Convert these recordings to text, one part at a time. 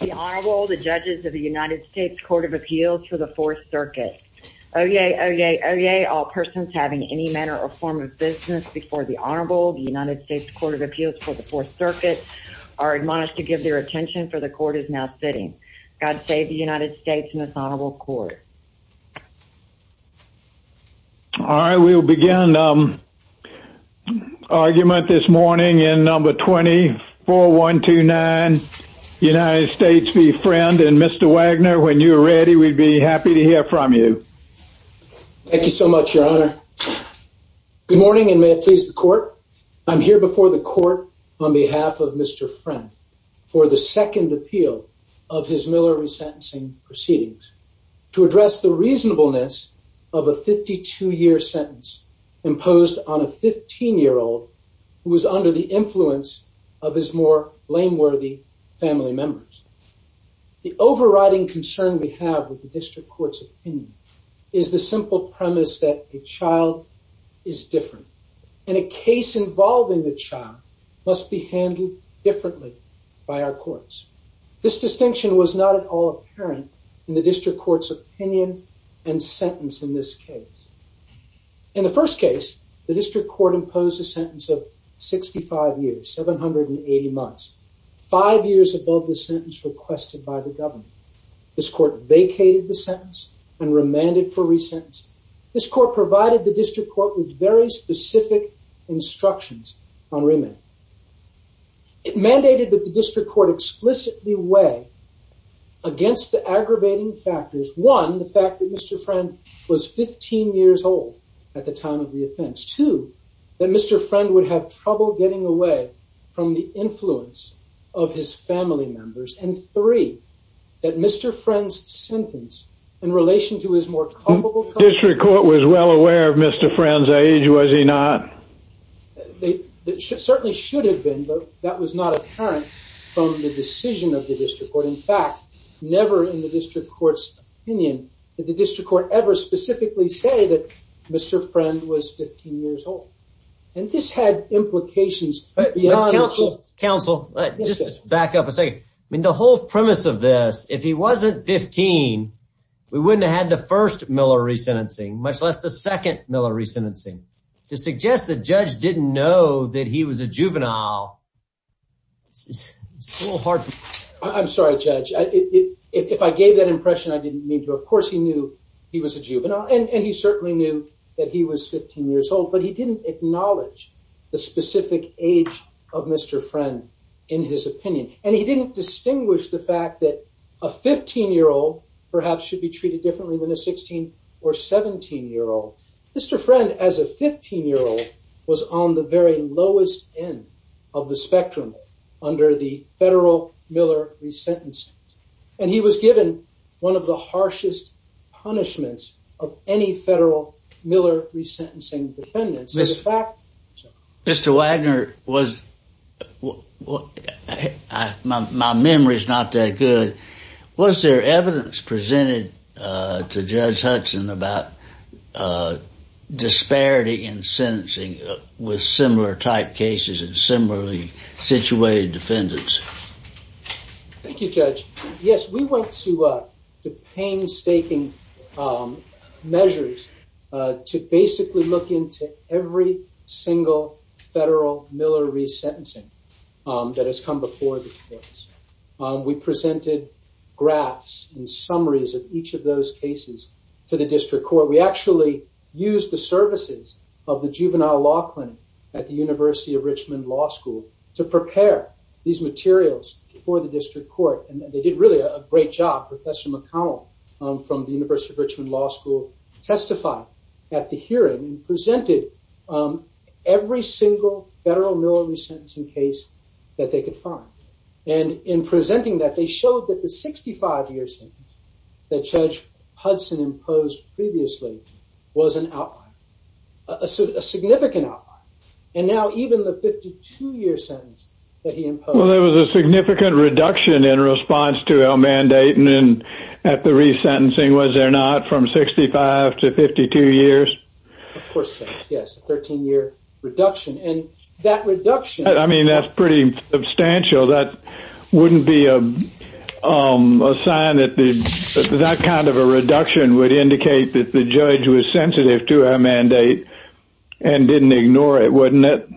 The Honorable, the judges of the United States Court of Appeals for the Fourth Circuit. Oyez, oyez, oyez, all persons having any manner or form of business before the Honorable, the United States Court of Appeals for the Fourth Circuit, are admonished to give their attention, for the court is now sitting. God save the United States and its Honorable Court. All right, we'll begin argument this morning in number 24129, United States v. Friend. And Mr. Wagner, when you're ready, we'd be happy to hear from you. Thank you so much, Your Honor. Good morning, and may it please the court, I'm here before the court on behalf of Mr. Friend for the second appeal of his Miller resentencing proceedings to address the reasonableness of a 52-year sentence imposed on a 15-year-old who was under the influence of his more blameworthy family members. The overriding concern we have with the district court's opinion is the simple premise that a child is different, and a case involving the child must be handled differently by our courts. This distinction was not at all apparent in the district court's opinion and sentence in this case. In the first case, the district court imposed a sentence of 65 years, 780 months, five years above the sentence requested by the government. This court vacated the sentence and remanded for resentencing. This court provided the district court with very specific instructions on remand. It mandated that the district court explicitly weigh against the aggravating factors, one, the fact that Mr. Friend was 15 years old at the time of the offense, two, that Mr. Friend would have trouble getting away from the influence of his family members, and three, that Mr. Friend's sentence in relation to his more culpable... The district court was well aware of Mr. Friend's age, was he not? It certainly should have been, but that was not apparent from the decision of the district court. In fact, never in the district court's opinion did the district court ever specifically say that Mr. Friend was 15 years old, and this had implications. Counsel, just back up a second. I mean, the whole premise of this, if he wasn't 15, we wouldn't have had the first Miller resentencing, much less the second Miller resentencing. To suggest the judge didn't know that he was a juvenile, it's a little hard to... I'm sorry, Judge. If I gave that impression, I didn't mean to. Of course, he knew he was a juvenile, and he certainly knew that he was 15 years old, but he didn't acknowledge the specific age of Mr. Friend in his opinion, and he didn't distinguish the fact that a 15-year-old perhaps should be treated differently than a 16 or 17-year-old. Mr. Friend, as a 15-year-old, was on the very lowest end of the spectrum under the federal Miller resentencing, and he was given one of the harshest punishments of any federal Miller resentencing defendants. Mr. Wagner, was... my memory is not that good. Was there evidence presented to Judge Hudson about disparity in sentencing with similar type cases and similarly situated defendants? Thank you, Judge. Yes, we went to the painstaking measures to basically look into every single federal Miller resentencing that has come before the courts. We presented graphs and summaries of each of those cases to the district court. We actually used the services of the Juvenile Law Clinic at the University of Richmond Law School to prepare these materials for the district court, and they did really a great job. Professor McCowell from the hearing presented every single federal Miller resentencing case that they could find, and in presenting that, they showed that the 65-year sentence that Judge Hudson imposed previously was an outline, a significant outline, and now even the 52-year sentence that he imposed... Well, there was a significant reduction in response to that. Of course, yes, a 13-year reduction, and that reduction... I mean, that's pretty substantial. That wouldn't be a sign that the... that kind of a reduction would indicate that the judge was sensitive to a mandate and didn't ignore it, wouldn't it?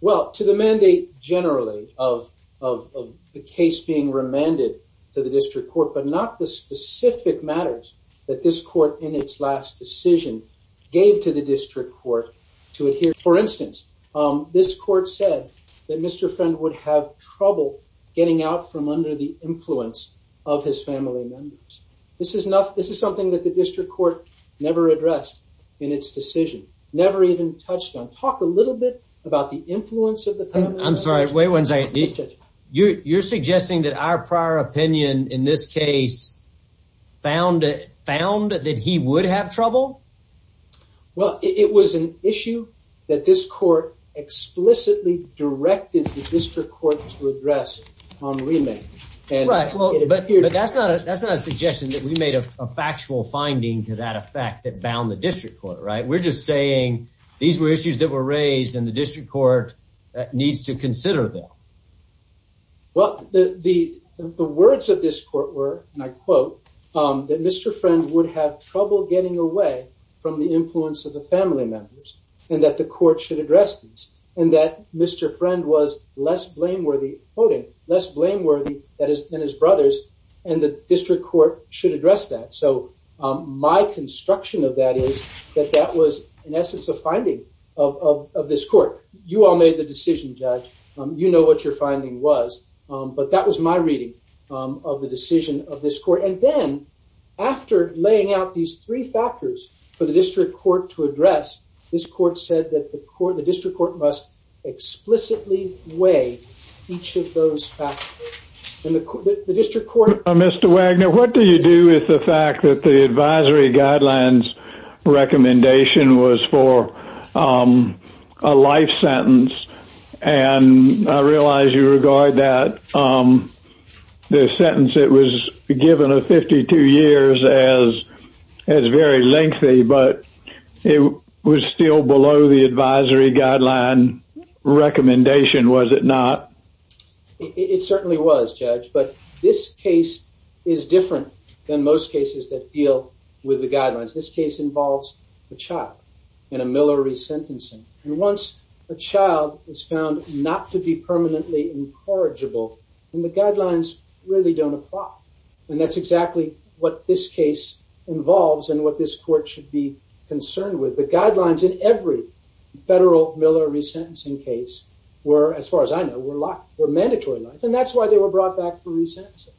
Well, to the mandate generally of the case being remanded to the district court, but not the specific matters that this court in its last decision gave to the district court to adhere to. For instance, this court said that Mr. Friend would have trouble getting out from under the influence of his family members. This is enough... this is something that the district court never addressed in its decision, never even touched on. Talk a little bit about the influence of the family members. I'm sorry, wait one second. You're suggesting that our prior opinion in this case found that he would have trouble? Well, it was an issue that this court explicitly directed the district court to address on remand. Right, but that's not a suggestion that we made a factual finding to that effect that bound the district court, right? We're just saying these were issues that were raised and the district court needs to consider them. Well, the words of this court were, and I quote, that Mr. Friend would have trouble getting away from the influence of the family members and that the court should address this and that Mr. Friend was less blameworthy, quoting, less blameworthy than his brothers and the district court should address that. So my construction of that is that that was in essence a finding of this court. You all made the decision, Judge. You know what your finding was, but that was my reading of the decision of this court. And then after laying out these three factors for the district court to address, this court said that the court, the district court must explicitly weigh each of those factors. And the district court... Mr. Wagner, what do you do with the fact that the life sentence, and I realize you regard that the sentence that was given of 52 years as very lengthy, but it was still below the advisory guideline recommendation, was it not? It certainly was, Judge, but this case is different than most cases that deal with the guidelines. This case involves the chop in a Miller resentencing, and once a child is found not to be permanently incorrigible, then the guidelines really don't apply. And that's exactly what this case involves and what this court should be concerned with. The guidelines in every federal Miller resentencing case were, as far as I know, were locked, were mandatory locks, and that's why they were brought back for resentencing,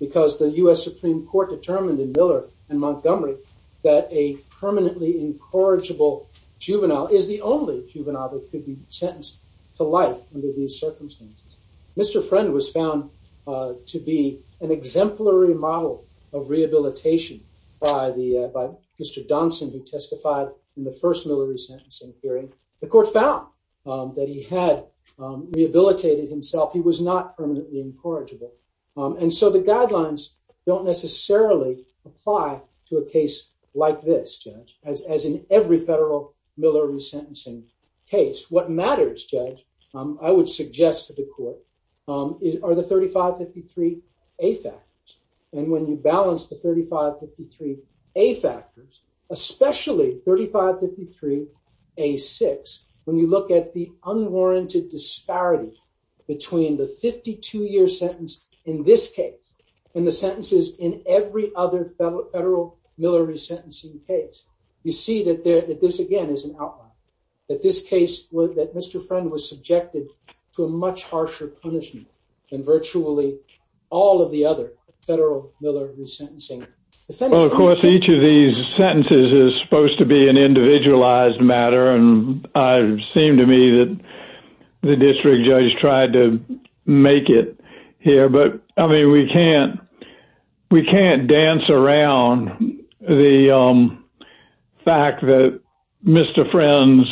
because the U.S. Supreme Court determined in Miller and Montgomery that a permanently incorrigible juvenile is the only juvenile that could be sentenced to life under these circumstances. Mr. Friend was found to be an exemplary model of rehabilitation by Mr. Donson, who testified in the first Miller resentencing hearing. The court found that he had rehabilitated himself. He was not permanently incorrigible. And so the guidelines don't necessarily apply to a as in every federal Miller resentencing case. What matters, Judge, I would suggest to the court, are the 3553A factors. And when you balance the 3553A factors, especially 3553A6, when you look at the unwarranted disparity between the 52 year sentence in this case and the sentences in every other federal Miller resentencing case, you see that this, again, is an outline. That this case, that Mr. Friend was subjected to a much harsher punishment than virtually all of the other federal Miller resentencing defendants. Of course, each of these sentences is supposed to be an individualized matter. And it seemed to me that the district judge tried to make it here. But I mean, we can't dance around the fact that Mr. Friend's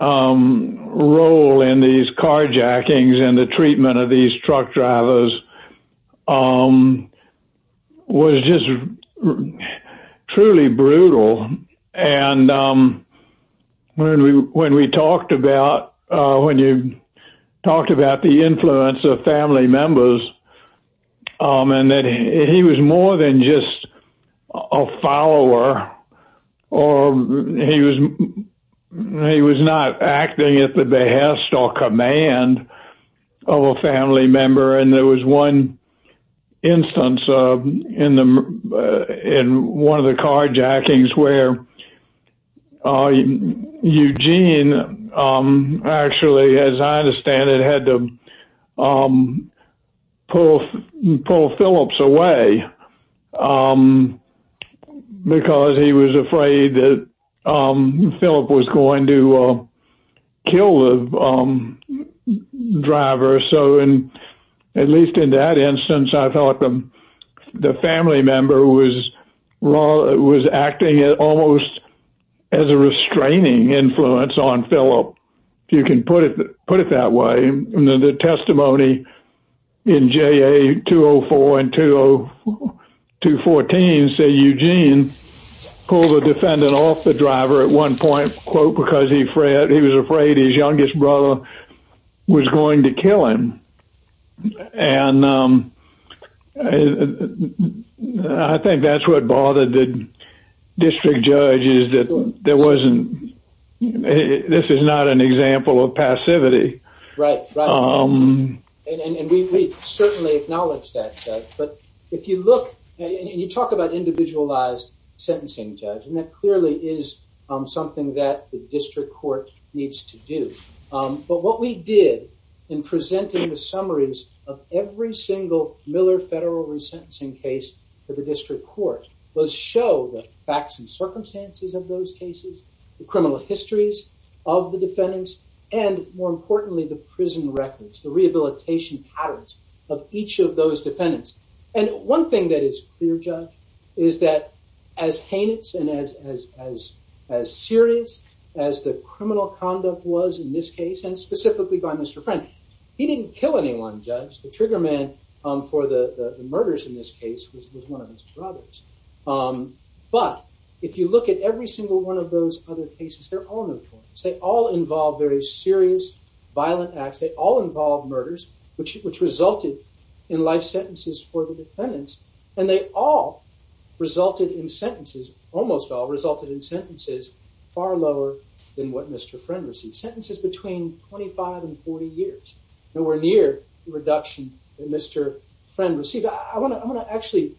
role in these carjackings and the treatment of these truck drivers was just truly brutal. And when we talked about when you talked about the influence of family members, and that he was more than just a follower, or he was, he was not acting at the behest or command of a family member. And there was one instance in the in one of the carjackings where Eugene, actually, as I understand it had to pull, pull Phillips away. Because he was afraid that Philip was going to kill the driver. So and at least in that instance, I thought the family member was raw, it was acting at almost as a restraining influence on Philip, if you can put it, put it that way. And then the testimony in ja 204, and to to 14, say, Eugene pulled the defendant off the driver at one point, quote, because he frayed, he was afraid his I think that's what bothered the district judge is that there wasn't, this is not an example of passivity. Right. And we certainly acknowledge that. But if you look, and you talk about individualized sentencing judge, and that clearly is something that the district court needs to do. But what we did in presenting the summaries of every single Miller federal resentencing case for the district court was show the facts and circumstances of those cases, the criminal histories of the defendants, and more importantly, the prison records, the rehabilitation patterns of each of those defendants. And one thing that is clear, Judge, is that as heinous and as, as, as, as serious as the criminal conduct was in this case, and specifically by Mr. Frank, he didn't kill anyone, Judge, the trigger man for the murders in this case was one of his brothers. But if you look at every single one of those other cases, they're all notorious, they all involve very serious, violent acts, they all involve murders, which which resulted in life sentences for the defendants. And they all resulted in sentences, almost all resulted in sentences, far lower than what Mr. Friend received sentences between 25 and 40 years, nowhere near the reduction in Mr. Friend received, I want to actually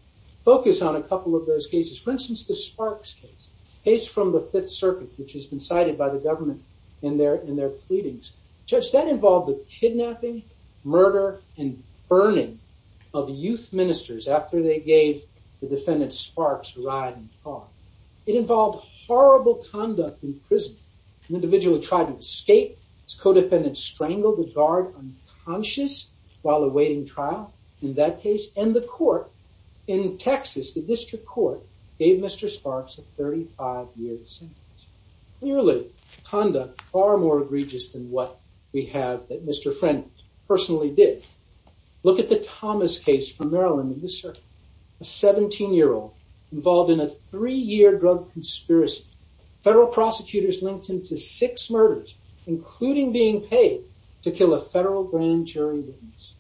focus on a couple of those cases, for instance, the sparks case, case from the Fifth Circuit, which has been cited by the government in their in their pleadings, Judge, that involved the defendant Sparks ride-and-fall. It involved horrible conduct in prison, an individual tried to escape, his co-defendants strangled the guard unconscious while awaiting trial in that case, and the court in Texas, the District Court, gave Mr. Sparks a 35-year sentence. Clearly, conduct far more egregious than what we have that Mr. Friend personally did. Look at the Thomas case from Maryland in the circuit, a 17-year-old involved in a three-year drug conspiracy. Federal prosecutors linked him to six murders, including being paid to kill a federal grand jury witness.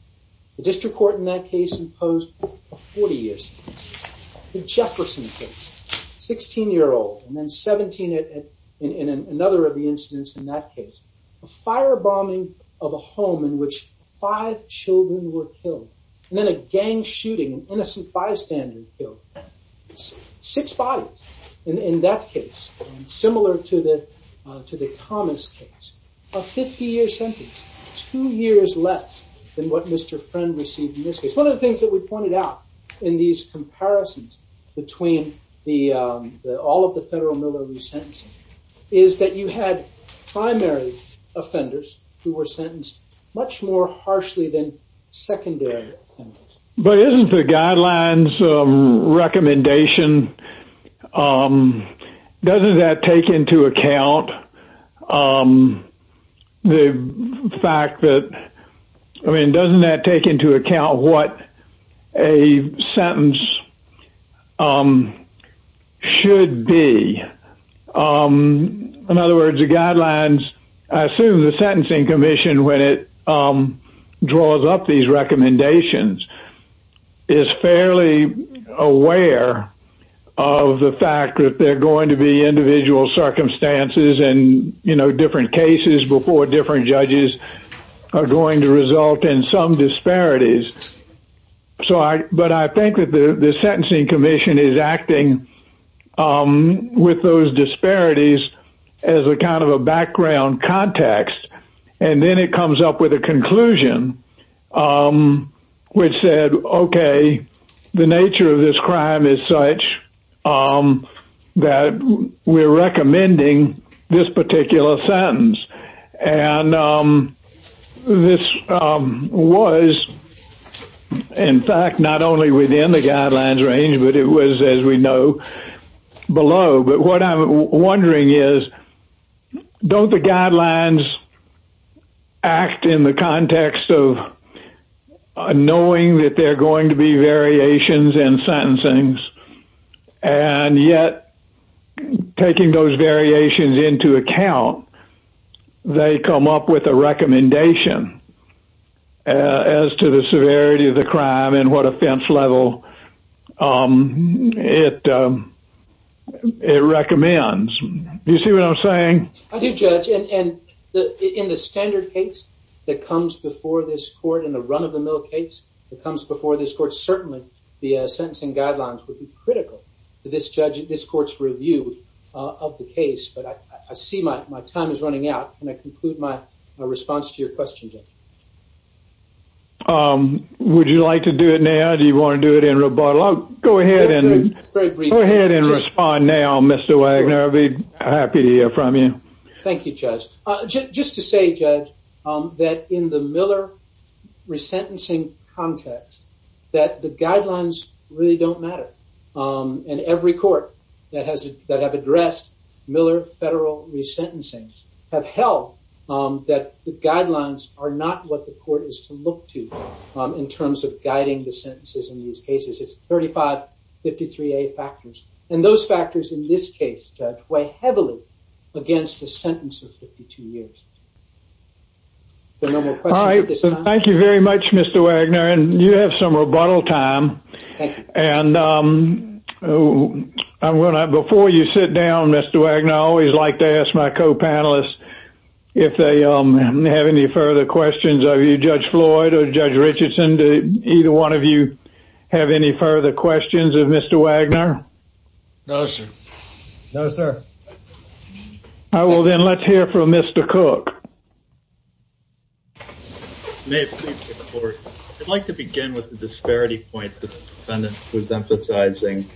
The District Court in that case imposed a 40-year sentence. The Jefferson case, 16-year-old and then 17 in another of the incidents in that case, a firebombing of a home in which five children were killed, and then a gang shooting, an innocent bystander killed. Six bodies in that case, similar to the to the Thomas case. A 50-year sentence, two years less than what Mr. Friend received in this case. One of the things that we pointed out in these comparisons between all of the federal military sentencing is that you had primary offenders who were sentenced much more harshly than secondary offenders. But isn't the Guidelines recommendation, doesn't that take into account the fact that, I mean doesn't that take into account what a sentence should be? In other words, the Guidelines, I assume the Sentencing Commission, when it draws up these recommendations, is fairly aware of the fact that there are going to be individual circumstances and you know different cases before different judges are going to result in some disparities. So I, but I think that the the Sentencing Commission is acting with those disparities as a kind of a background context, and then it comes up with a conclusion which said, okay the nature of this crime is such that we're recommending this particular sentence. And this was in fact not only within the Guidelines but also below. But what I'm wondering is, don't the Guidelines act in the context of knowing that there are going to be variations in sentencing, and yet taking those variations into account, they come up with a recommendation as to severity of the crime and what offense level it recommends. You see what I'm saying? I do judge, and in the standard case that comes before this court, in a run-of-the-mill case that comes before this court, certainly the Sentencing Guidelines would be critical to this judge, this court's review of the case. But I see my time is running out. Can I conclude my response to your question, Judge? Would you like to do it now? Do you want to do it in rebuttal? Go ahead and go ahead and respond now, Mr. Wagner. I'll be happy to hear from you. Thank you, Judge. Just to say, Judge, that in the Miller resentencing context, that the Guidelines really don't matter. And every court that has that have addressed Miller federal resentencings have held that the Guidelines are not what the court is to look to in terms of guiding the sentences in these cases. It's 3553A factors, and those factors in this case, Judge, weigh heavily against the sentence of 52 years. All right, thank you very much, Mr. Wagner, and you have some rebuttal time. And before you sit down, Mr. Wagner, I always like to ask my co-panelists if they have any further questions of you, Judge Floyd or Judge Richardson. Do either one of you have any further questions of Mr. Wagner? No, sir. I will then let's hear from Mr. Cook. I'd like to begin with the disparity point the defendant was emphasizing.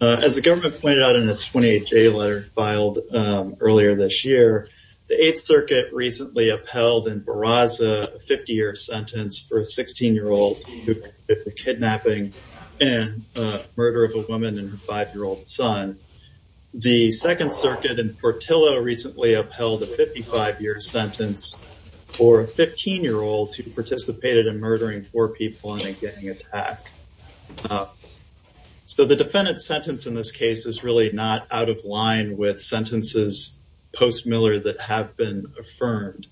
As the government pointed out in its 28-J letter filed earlier this year, the Eighth Circuit recently upheld in Barraza a 50-year sentence for a 16-year-old who committed the kidnapping and murder of a The Second Circuit in Portillo recently upheld a 55-year sentence for a 15-year-old who participated in murdering four people in a gang attack. So the defendant's sentence in this case is really not out of line with sentences post Miller that have been affirmed.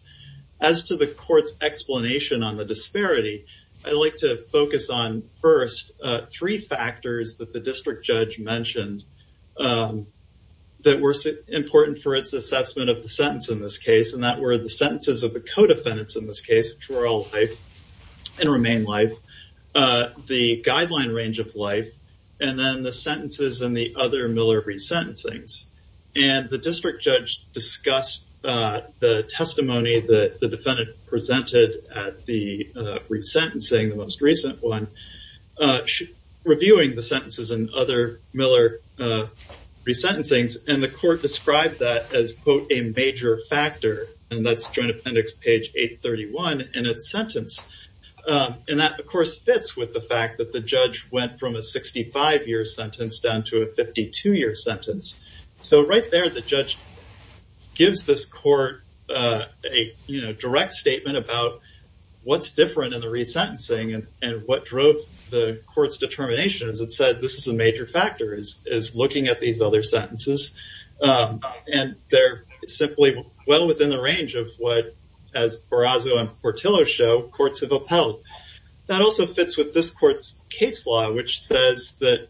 As to the court's explanation on the disparity, I'd like to that were important for its assessment of the sentence in this case, and that were the sentences of the co-defendants in this case, which were all life and remain life, the guideline range of life, and then the sentences in the other Miller resentencings. And the district judge discussed the testimony that the defendant presented at the resentencing, the most recent one, reviewing the And the court described that as, quote, a major factor. And that's Joint Appendix page 831 in its sentence. And that, of course, fits with the fact that the judge went from a 65-year sentence down to a 52-year sentence. So right there, the judge gives this court a direct statement about what's different in the resentencing and what drove the court's determination. As it said, this is a And they're simply well within the range of what, as Barrazzo and Portillo show, courts have upheld. That also fits with this court's case law, which says that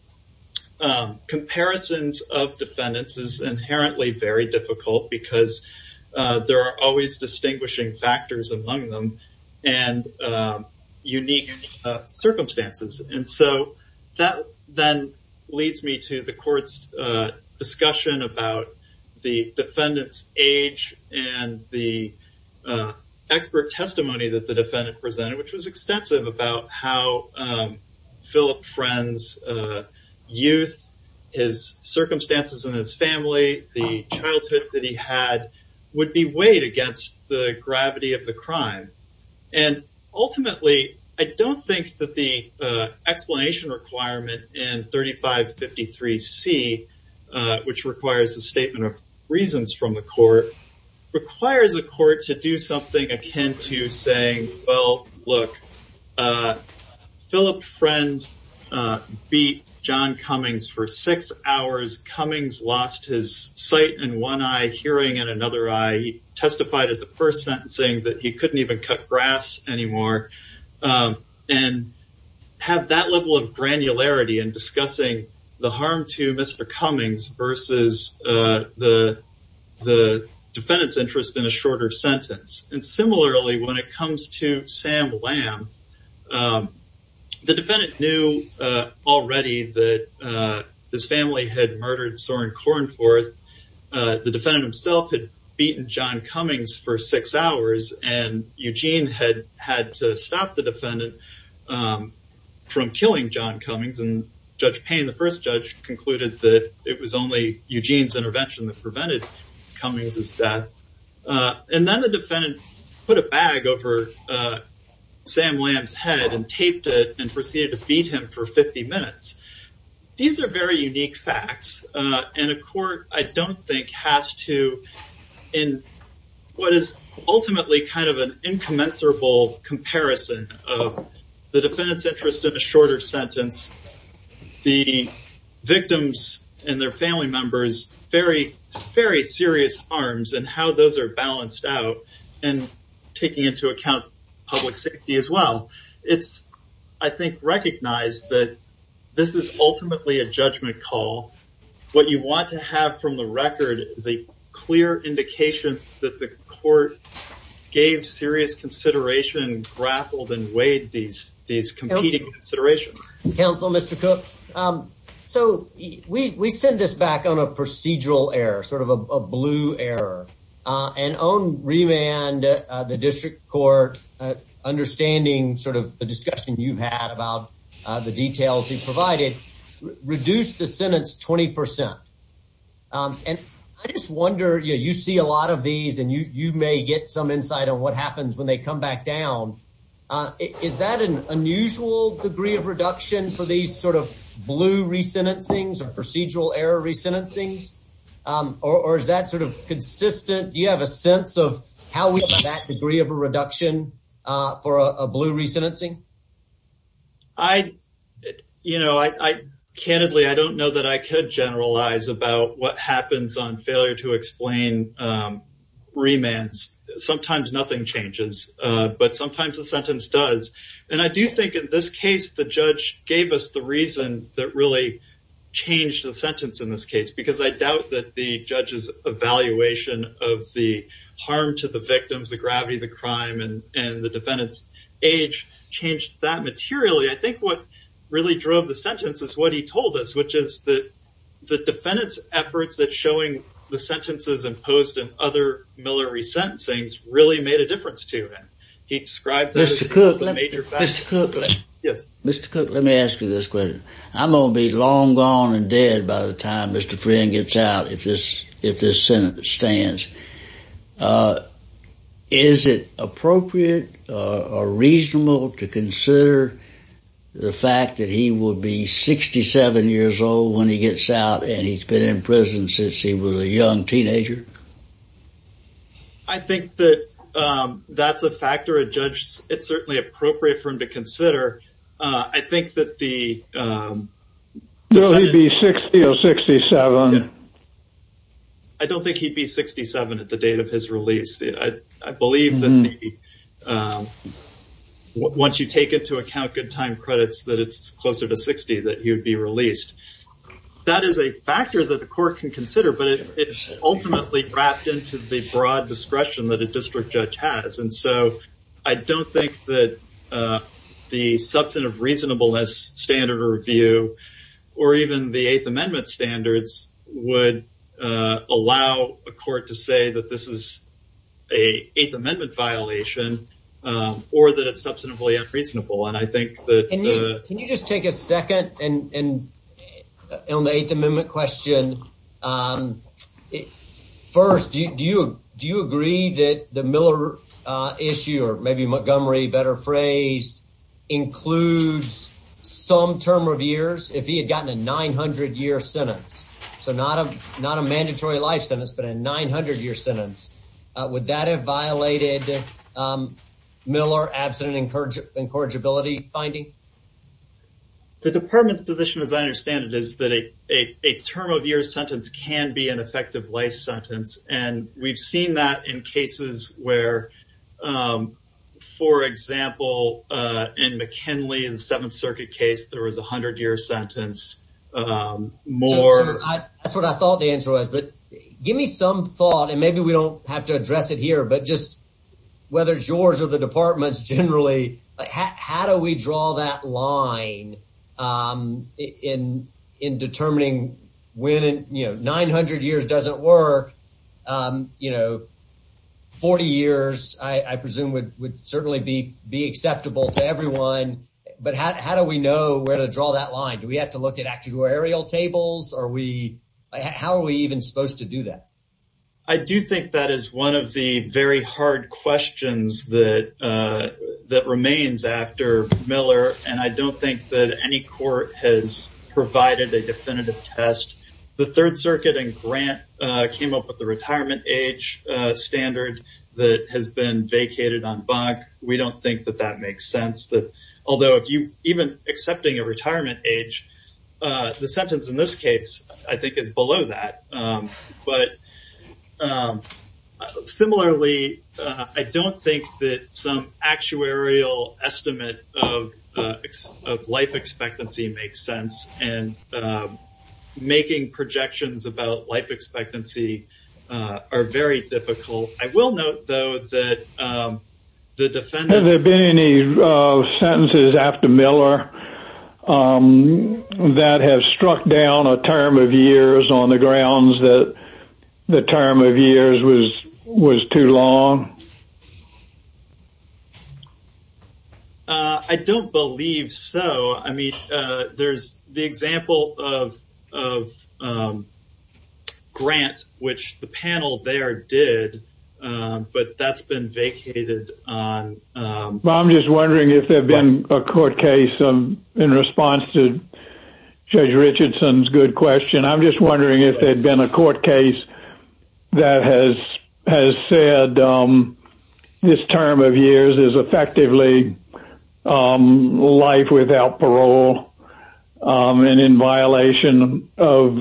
comparisons of defendants is inherently very difficult because there are always distinguishing factors among them and unique circumstances. And so that then leads me to the court's discussion about the defendant's age and the expert testimony that the defendant presented, which was extensive, about how Philip Friend's youth, his circumstances in his family, the childhood that he had would be weighed against the gravity of the crime. And 3553C, which requires a statement of reasons from the court, requires the court to do something akin to saying, well, look, Philip Friend beat John Cummings for six hours. Cummings lost his sight in one eye, hearing in another eye. He testified at the first sentencing that he couldn't even cut grass anymore. And have that level of granularity in discussing the harm to Mr. Cummings versus the defendant's interest in a shorter sentence. And similarly, when it comes to Sam Lamb, the defendant knew already that his family had murdered Soren Kornforth. The defendant himself had beaten John Cummings for six hours and Eugene had had to stop the defendant from killing John Cummings and Judge Payne, the first judge concluded that it was only Eugene's intervention that prevented Cummings' death. And then the defendant put a bag over Sam Lamb's head and taped it and proceeded to beat him for 50 minutes. These are very unique facts. And a court, I don't think, has to, in what is ultimately kind of an incommensurable comparison of the defendant's interest in a shorter sentence, the victims and their family members, very, very serious harms and how those are balanced out and taking into account public safety as well. It's, I think, recognized that this is ultimately a judgment call. What you want to have from the record is a clear indication that the court gave serious consideration, grappled and weighed these competing considerations. Counsel, Mr. Cook, so we send this back on a procedural error, sort of a blue error and own remand, the district court understanding sort of the discussion you've had about the details you provided, reduced the sentence 20%. And I just wonder, you know, you see a lot of these and you may get some insight on what happens when they come back down. Is that an unusual degree of reduction for these sort of blue resentencings or procedural error resentencings? Or is that sort of consistent? Do you have a sense of how we get that degree of a reduction for a blue resentencing? I, you know, I, candidly, I don't know that I could generalize about what happens on failure to explain remands. Sometimes nothing changes, but sometimes the sentence does. And I do think in this case, the judge gave us the reason that really changed the sentence in this case, because I doubt that the judge's evaluation of the harm to the victims, the gravity of the crime and the defendant's age changed that materially. I think what really drove the sentence is what he told us, which is that the defendant's efforts at showing the sentences imposed in other Miller resentencings really made a difference to him. He described that as a major factor. Yes, Mr. Cook, let me ask you this question. I'm gonna be long gone and dead by the time Mr. Friend gets out if this if this Senate stands. Is it appropriate or reasonable to consider the fact that he will be 67 years old when he gets out and he's been in prison since he was a young teenager? I think that that's a factor a judge, it's certainly appropriate for a court to consider. I think that the 60 or 67. I don't think he'd be 67 at the date of his release. I believe that once you take into account good time credits, that it's closer to 60 that he would be released. That is a factor that the court can consider, but it's ultimately wrapped into the broad discretion that a district judge has. And so I don't think that the substantive reasonableness standard review or even the Eighth Amendment standards would allow a court to say that this is a Eighth Amendment violation or that it's substantively unreasonable. And I think that can you just take a second and and on the Eighth Amendment question? Um, first, do you? Do you agree that the Miller issue or maybe Montgomery better phrase includes some term of years if he had gotten a 900 year sentence? So not a not a mandatory life sentence, but a 900 year sentence. Would that have violated? Um, Miller absent encourage incorrigibility finding the department's position, as I understand it, is that a term of year sentence can be an effective life sentence. And we've seen that in cases where, um, for example, in McKinley and Seventh Circuit case, there was 100 year sentence. Um, more. That's what I thought the answer was. But give me some thought, and maybe we don't have to address it here. But just whether George or the department's generally, how do we draw that line? Um, in in determining winning, you know, 900 years doesn't work. Um, you know, 40 years, I presume, would would certainly be be acceptable to everyone. But how do we know where to draw that line? Do we have to look at actual aerial tables? Are we? How are we even supposed to do that? I do think that is one of the very hard questions that that remains after Miller. And I don't think that any court has provided a definitive test. The Third Circuit and Grant came up with the retirement age standard that has been vacated on bug. We don't think that that makes sense that although if you even accepting a retirement age, the sentence in this case, I think, is below that. But, um, similarly, I don't think that some actuarial estimate of life expectancy makes sense. And making projections about life expectancy are very difficult. I will note, though, that the defendants have been any sentences after Miller that have struck down a term of years on the grounds that the term of years was was too long. I don't believe so. I mean, there's the example of of grant, which the panel there did. But that's been vacated on. I'm just wondering if there'd been a court case in response to Judge Richardson's good question. I'm just wondering if there'd been a court case that has has said this term of years is effectively life without parole. And in violation of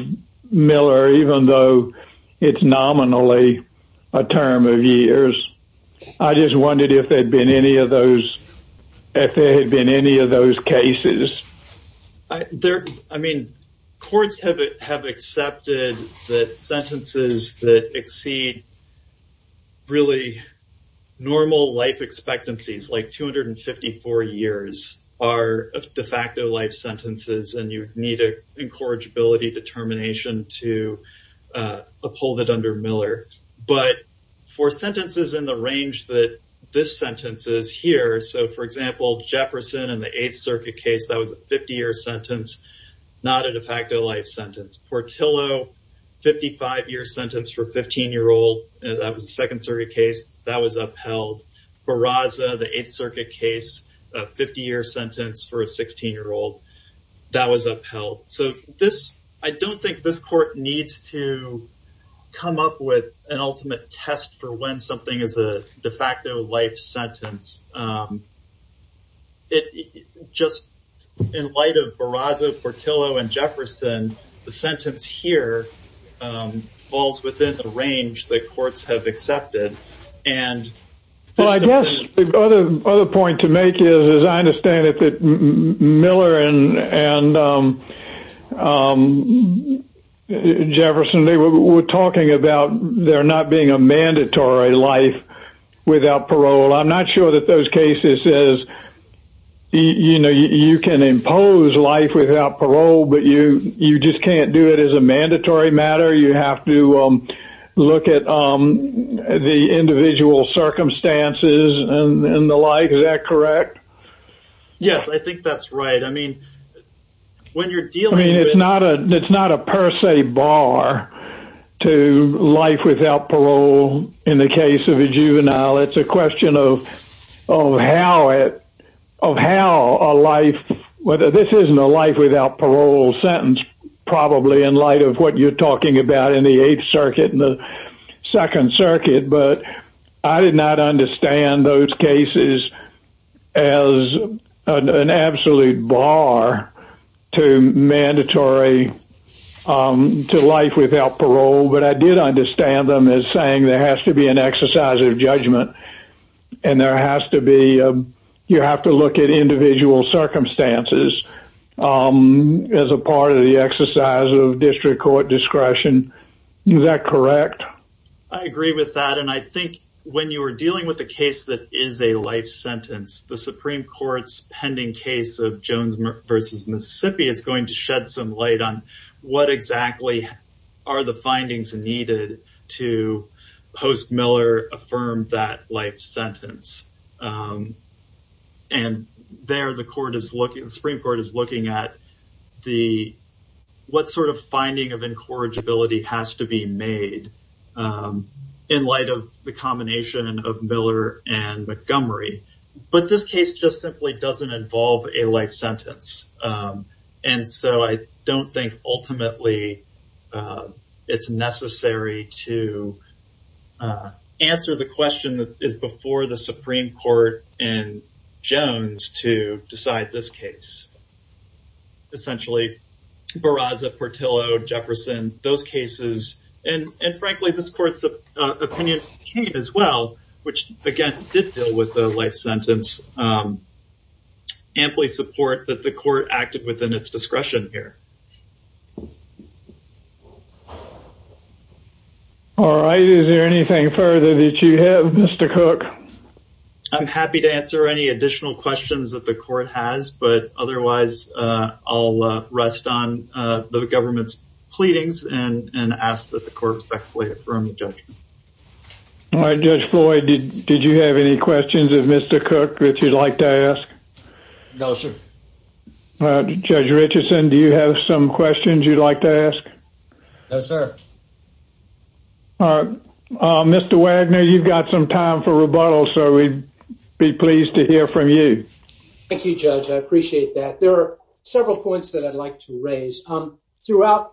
Miller, even though it's nominally a term of years, I just wondered if there'd been any of those, if there had been any of those cases. I mean, courts have have accepted that sentences that exceed really normal life expectancies, like 254 years, are de facto life sentences, and you need a incorrigibility determination to uphold it under Miller. But for sentences in the range that this sentence is here, so for example, Jefferson and the Eighth Circuit case was a 50-year sentence, not a de facto life sentence. Portillo, 55-year sentence for 15-year-old, that was a Second Circuit case, that was upheld. Barraza, the Eighth Circuit case, a 50-year sentence for a 16-year-old, that was upheld. So this, I don't think this court needs to come up with an ultimate test for when something is a de facto life sentence. It just, in light of Barraza, Portillo, and Jefferson, the sentence here falls within the range that courts have accepted. And, well, I guess the other point to make is, as I understand it, that Miller and Jefferson, they were talking about there not being a mandatory life without parole. I'm not sure that those cases says, you know, you can impose life without parole, but you just can't do it as a mandatory matter. You have to look at the individual circumstances and the like. Is that correct? Yes, I think that's right. I mean, when you're dealing with- I mean, it's not a per se bar to life without parole in the case of a juvenile. It's a question of how a life, whether this isn't a life without parole sentence, probably in light of what you're talking about in the Eighth Circuit. But I did not understand those cases as an absolute bar to mandatory- to life without parole. But I did understand them as saying there has to be an exercise of judgment. And there has to be- you have to look at individual circumstances as a part of the exercise of district court discretion. Is that correct? I agree with that. And I think when you are dealing with a case that is a life sentence, the Supreme Court's pending case of Jones v. Mississippi is going to shed some light on what exactly are the findings needed to post Miller affirm that life sentence. And there the Supreme Court is looking at what sort of in light of the combination of Miller and Montgomery. But this case just simply doesn't involve a life sentence. And so I don't think ultimately it's necessary to answer the question that is before the Supreme Court and Jones to decide this case. Essentially, Barraza, Portillo, Jefferson, those cases, and frankly, this court's opinion came as well, which, again, did deal with the life sentence. Amply support that the court acted within its discretion here. All right. Is there anything further that you have, Mr. Cook? I'm happy to answer any additional questions that the court has. But otherwise, I'll rest on the government's pleadings and ask that the court respectfully affirm the judgment. All right, Judge Floyd, did you have any questions of Mr. Cook that you'd like to ask? No, sir. Judge Richardson, do you have some questions you'd like to ask? No, sir. All right. Mr. Wagner, you've got some time for rebuttal. So we'd be pleased to hear from you. Thank you, Judge. I appreciate that. There are several points that I'd like to touch on. And I'm going to start with the first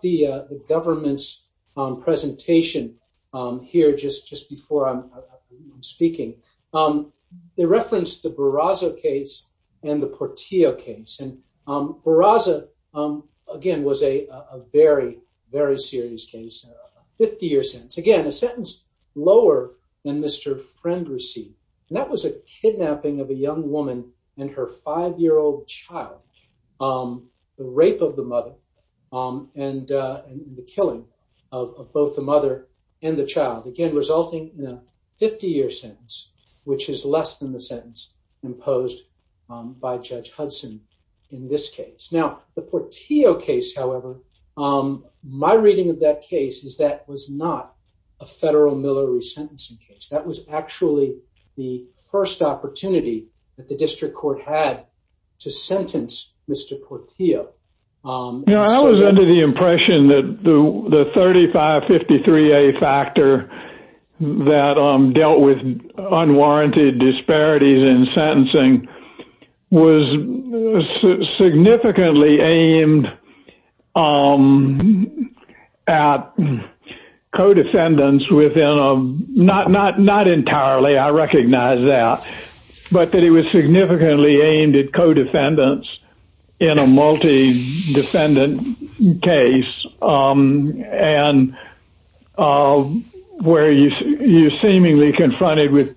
one. And I'm going to start with a little bit of a refutation here just before I'm speaking. They referenced the Barraza case and the Portillo case. And Barraza, again, was a very, very serious case. A 50-year sentence. Again, a sentence lower than Mr. Friend received. And that child, again, resulting in a 50-year sentence, which is less than the sentence imposed by Judge Hudson in this case. Now, the Portillo case, however, my reading of that case is that was not a federal Miller resentencing case. That was actually the first opportunity that the district court had to sentence Mr. Portillo. You know, I was under the impression that the 3553A factor that dealt with unwarranted disparities in sentencing was significantly aimed at co-defendants within, not entirely, I recognize that, but that it was significantly aimed at co-defendants in a multi-defendant case. And where you're seemingly confronted with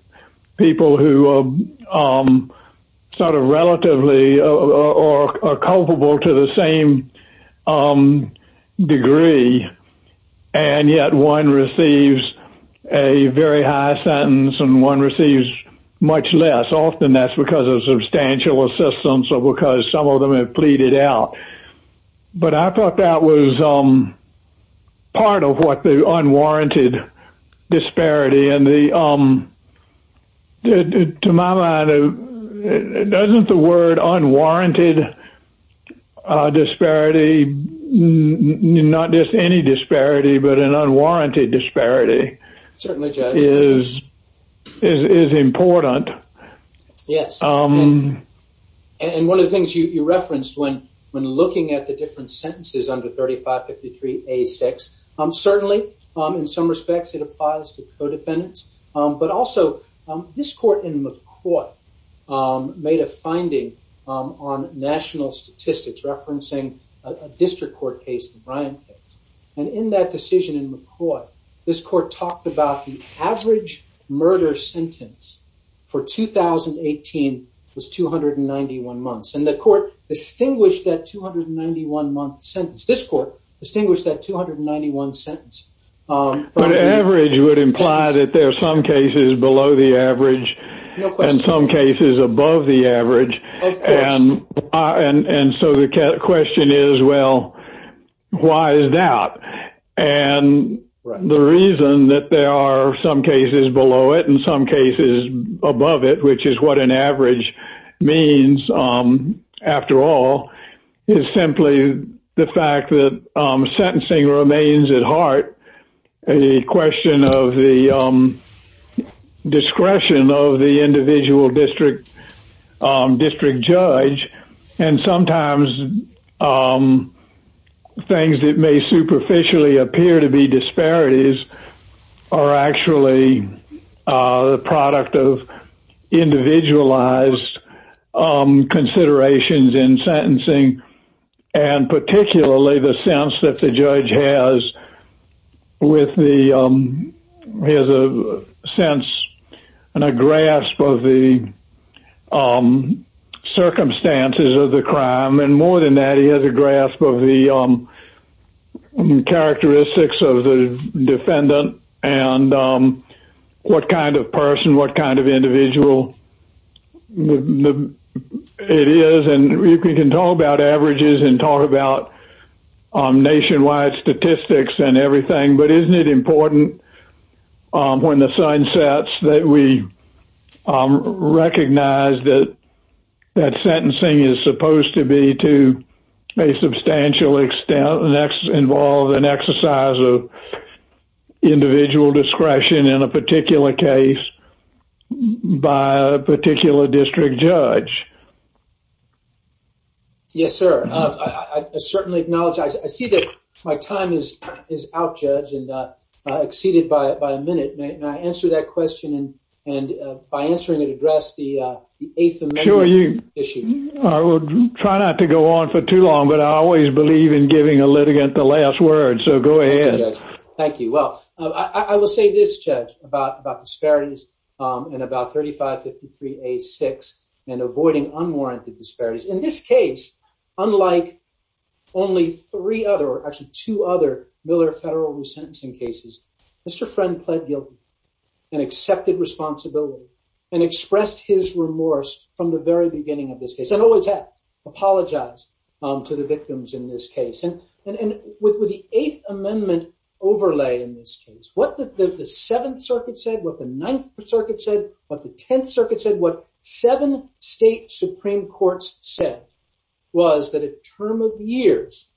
people who sort of relatively are culpable to the same degree, and yet one receives a very high sentence and one receives much less. Often that's because of substantial assistance or because some of them have pleaded out. But I thought that was part of what the unwarranted disparity and the, to my mind, doesn't the word unwarranted disparity, not just any disparity, but an unwarranted disparity, is important. Yes. And one of the things you referenced when looking at the different sentences under 3553A6, certainly, in some respects, it applies to co-defendants. But also, this court in McCoy made a finding on national statistics, referencing a district court case, the Bryant case. And in that decision in McCoy, this court talked about the 2018 was 291 months. And the court distinguished that 291 month sentence. This court distinguished that 291 sentence. But average would imply that there are some cases below the average, and some cases above the average. And so the question is, well, why is that? And the reason that there are some cases below it, and some cases above it, which is what an average means, after all, is simply the fact that sentencing remains at heart, a question of the discretion of the individual district, district judge, and sometimes things that may superficially appear to be disparities, are actually the product of individualized considerations in sentencing, and particularly the sense that the judge has with the sense and a grasp of the circumstances of the crime. And more than that, he has a grasp of the characteristics of the defendant, and what kind of person what kind of individual it is. And we can talk about averages and talk about nationwide statistics and everything. But isn't it recognized that that sentencing is supposed to be to a substantial extent, and that's involved an exercise of individual discretion in a particular case by a particular district judge? Yes, sir. I certainly acknowledge I see that my time is is out judge and exceeded by a minute. May I answer that question? And and by answering it address the eighth of issue, I would try not to go on for too long, but I always believe in giving a litigant the last word. So go ahead. Thank you. Well, I will say this judge about disparities in about 3553 a six and avoiding unwarranted disparities in this case, unlike only three other actually two other Miller federal resentencing cases, Mr. Friend pled guilty and accepted responsibility and expressed his remorse from the very beginning of this case and always have apologized to the victims in this case. And with the Eighth Amendment overlay in this case, what the Seventh Circuit said, what the Ninth Circuit said, what the Tenth Circuit said, what seven state Supreme courts said was that a term of years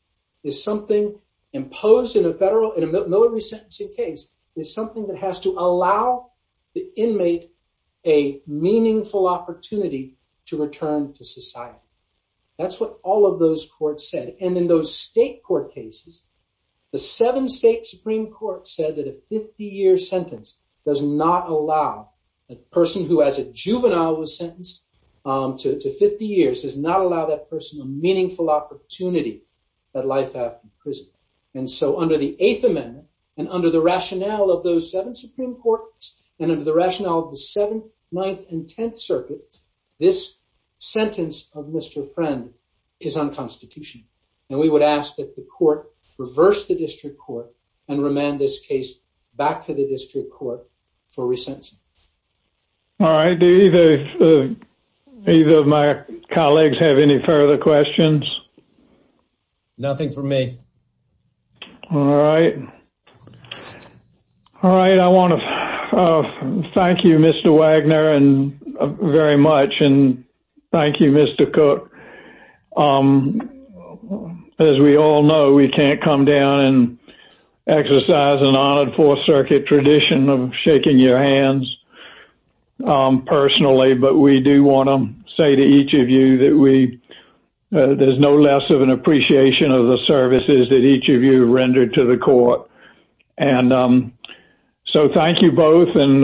is something imposed in a federal in a military sentencing case is something that has to allow the inmate a meaningful opportunity to return to society. That's what all of those courts said. And in those state court cases, the seven state Supreme Court said that a 50 year sentence does not allow a person who, as a juvenile was sentenced to 50 years does not allow that person a meaningful opportunity that life after prison. And so under the Eighth Amendment and under the rationale of those seven Supreme Court and under the rationale of the seventh, ninth and tenth circuit, this sentence of Mr. Friend is unconstitutional. And we would ask that the court reverse the district court and remand this case back to the district court for sentencing. All right. Do either of my colleagues have any further questions? Nothing for me. All right. All right. I want to thank you, Mr. Wagner and very much. And thank you, Mr. Cook. As we all know, we can't come down and exercise an honored Fourth Circuit tradition of shaking your hands personally. But we do want to say to each of you that we there's no less of an appreciation of the services that each of you rendered to the court. And so thank you both. And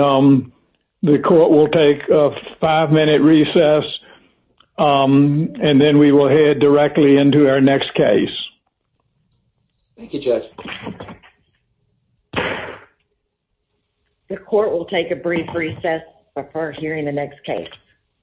the court will take a five minute recess. And then we will head directly into our Thank you, Judge. The court will take a brief recess for hearing the next case.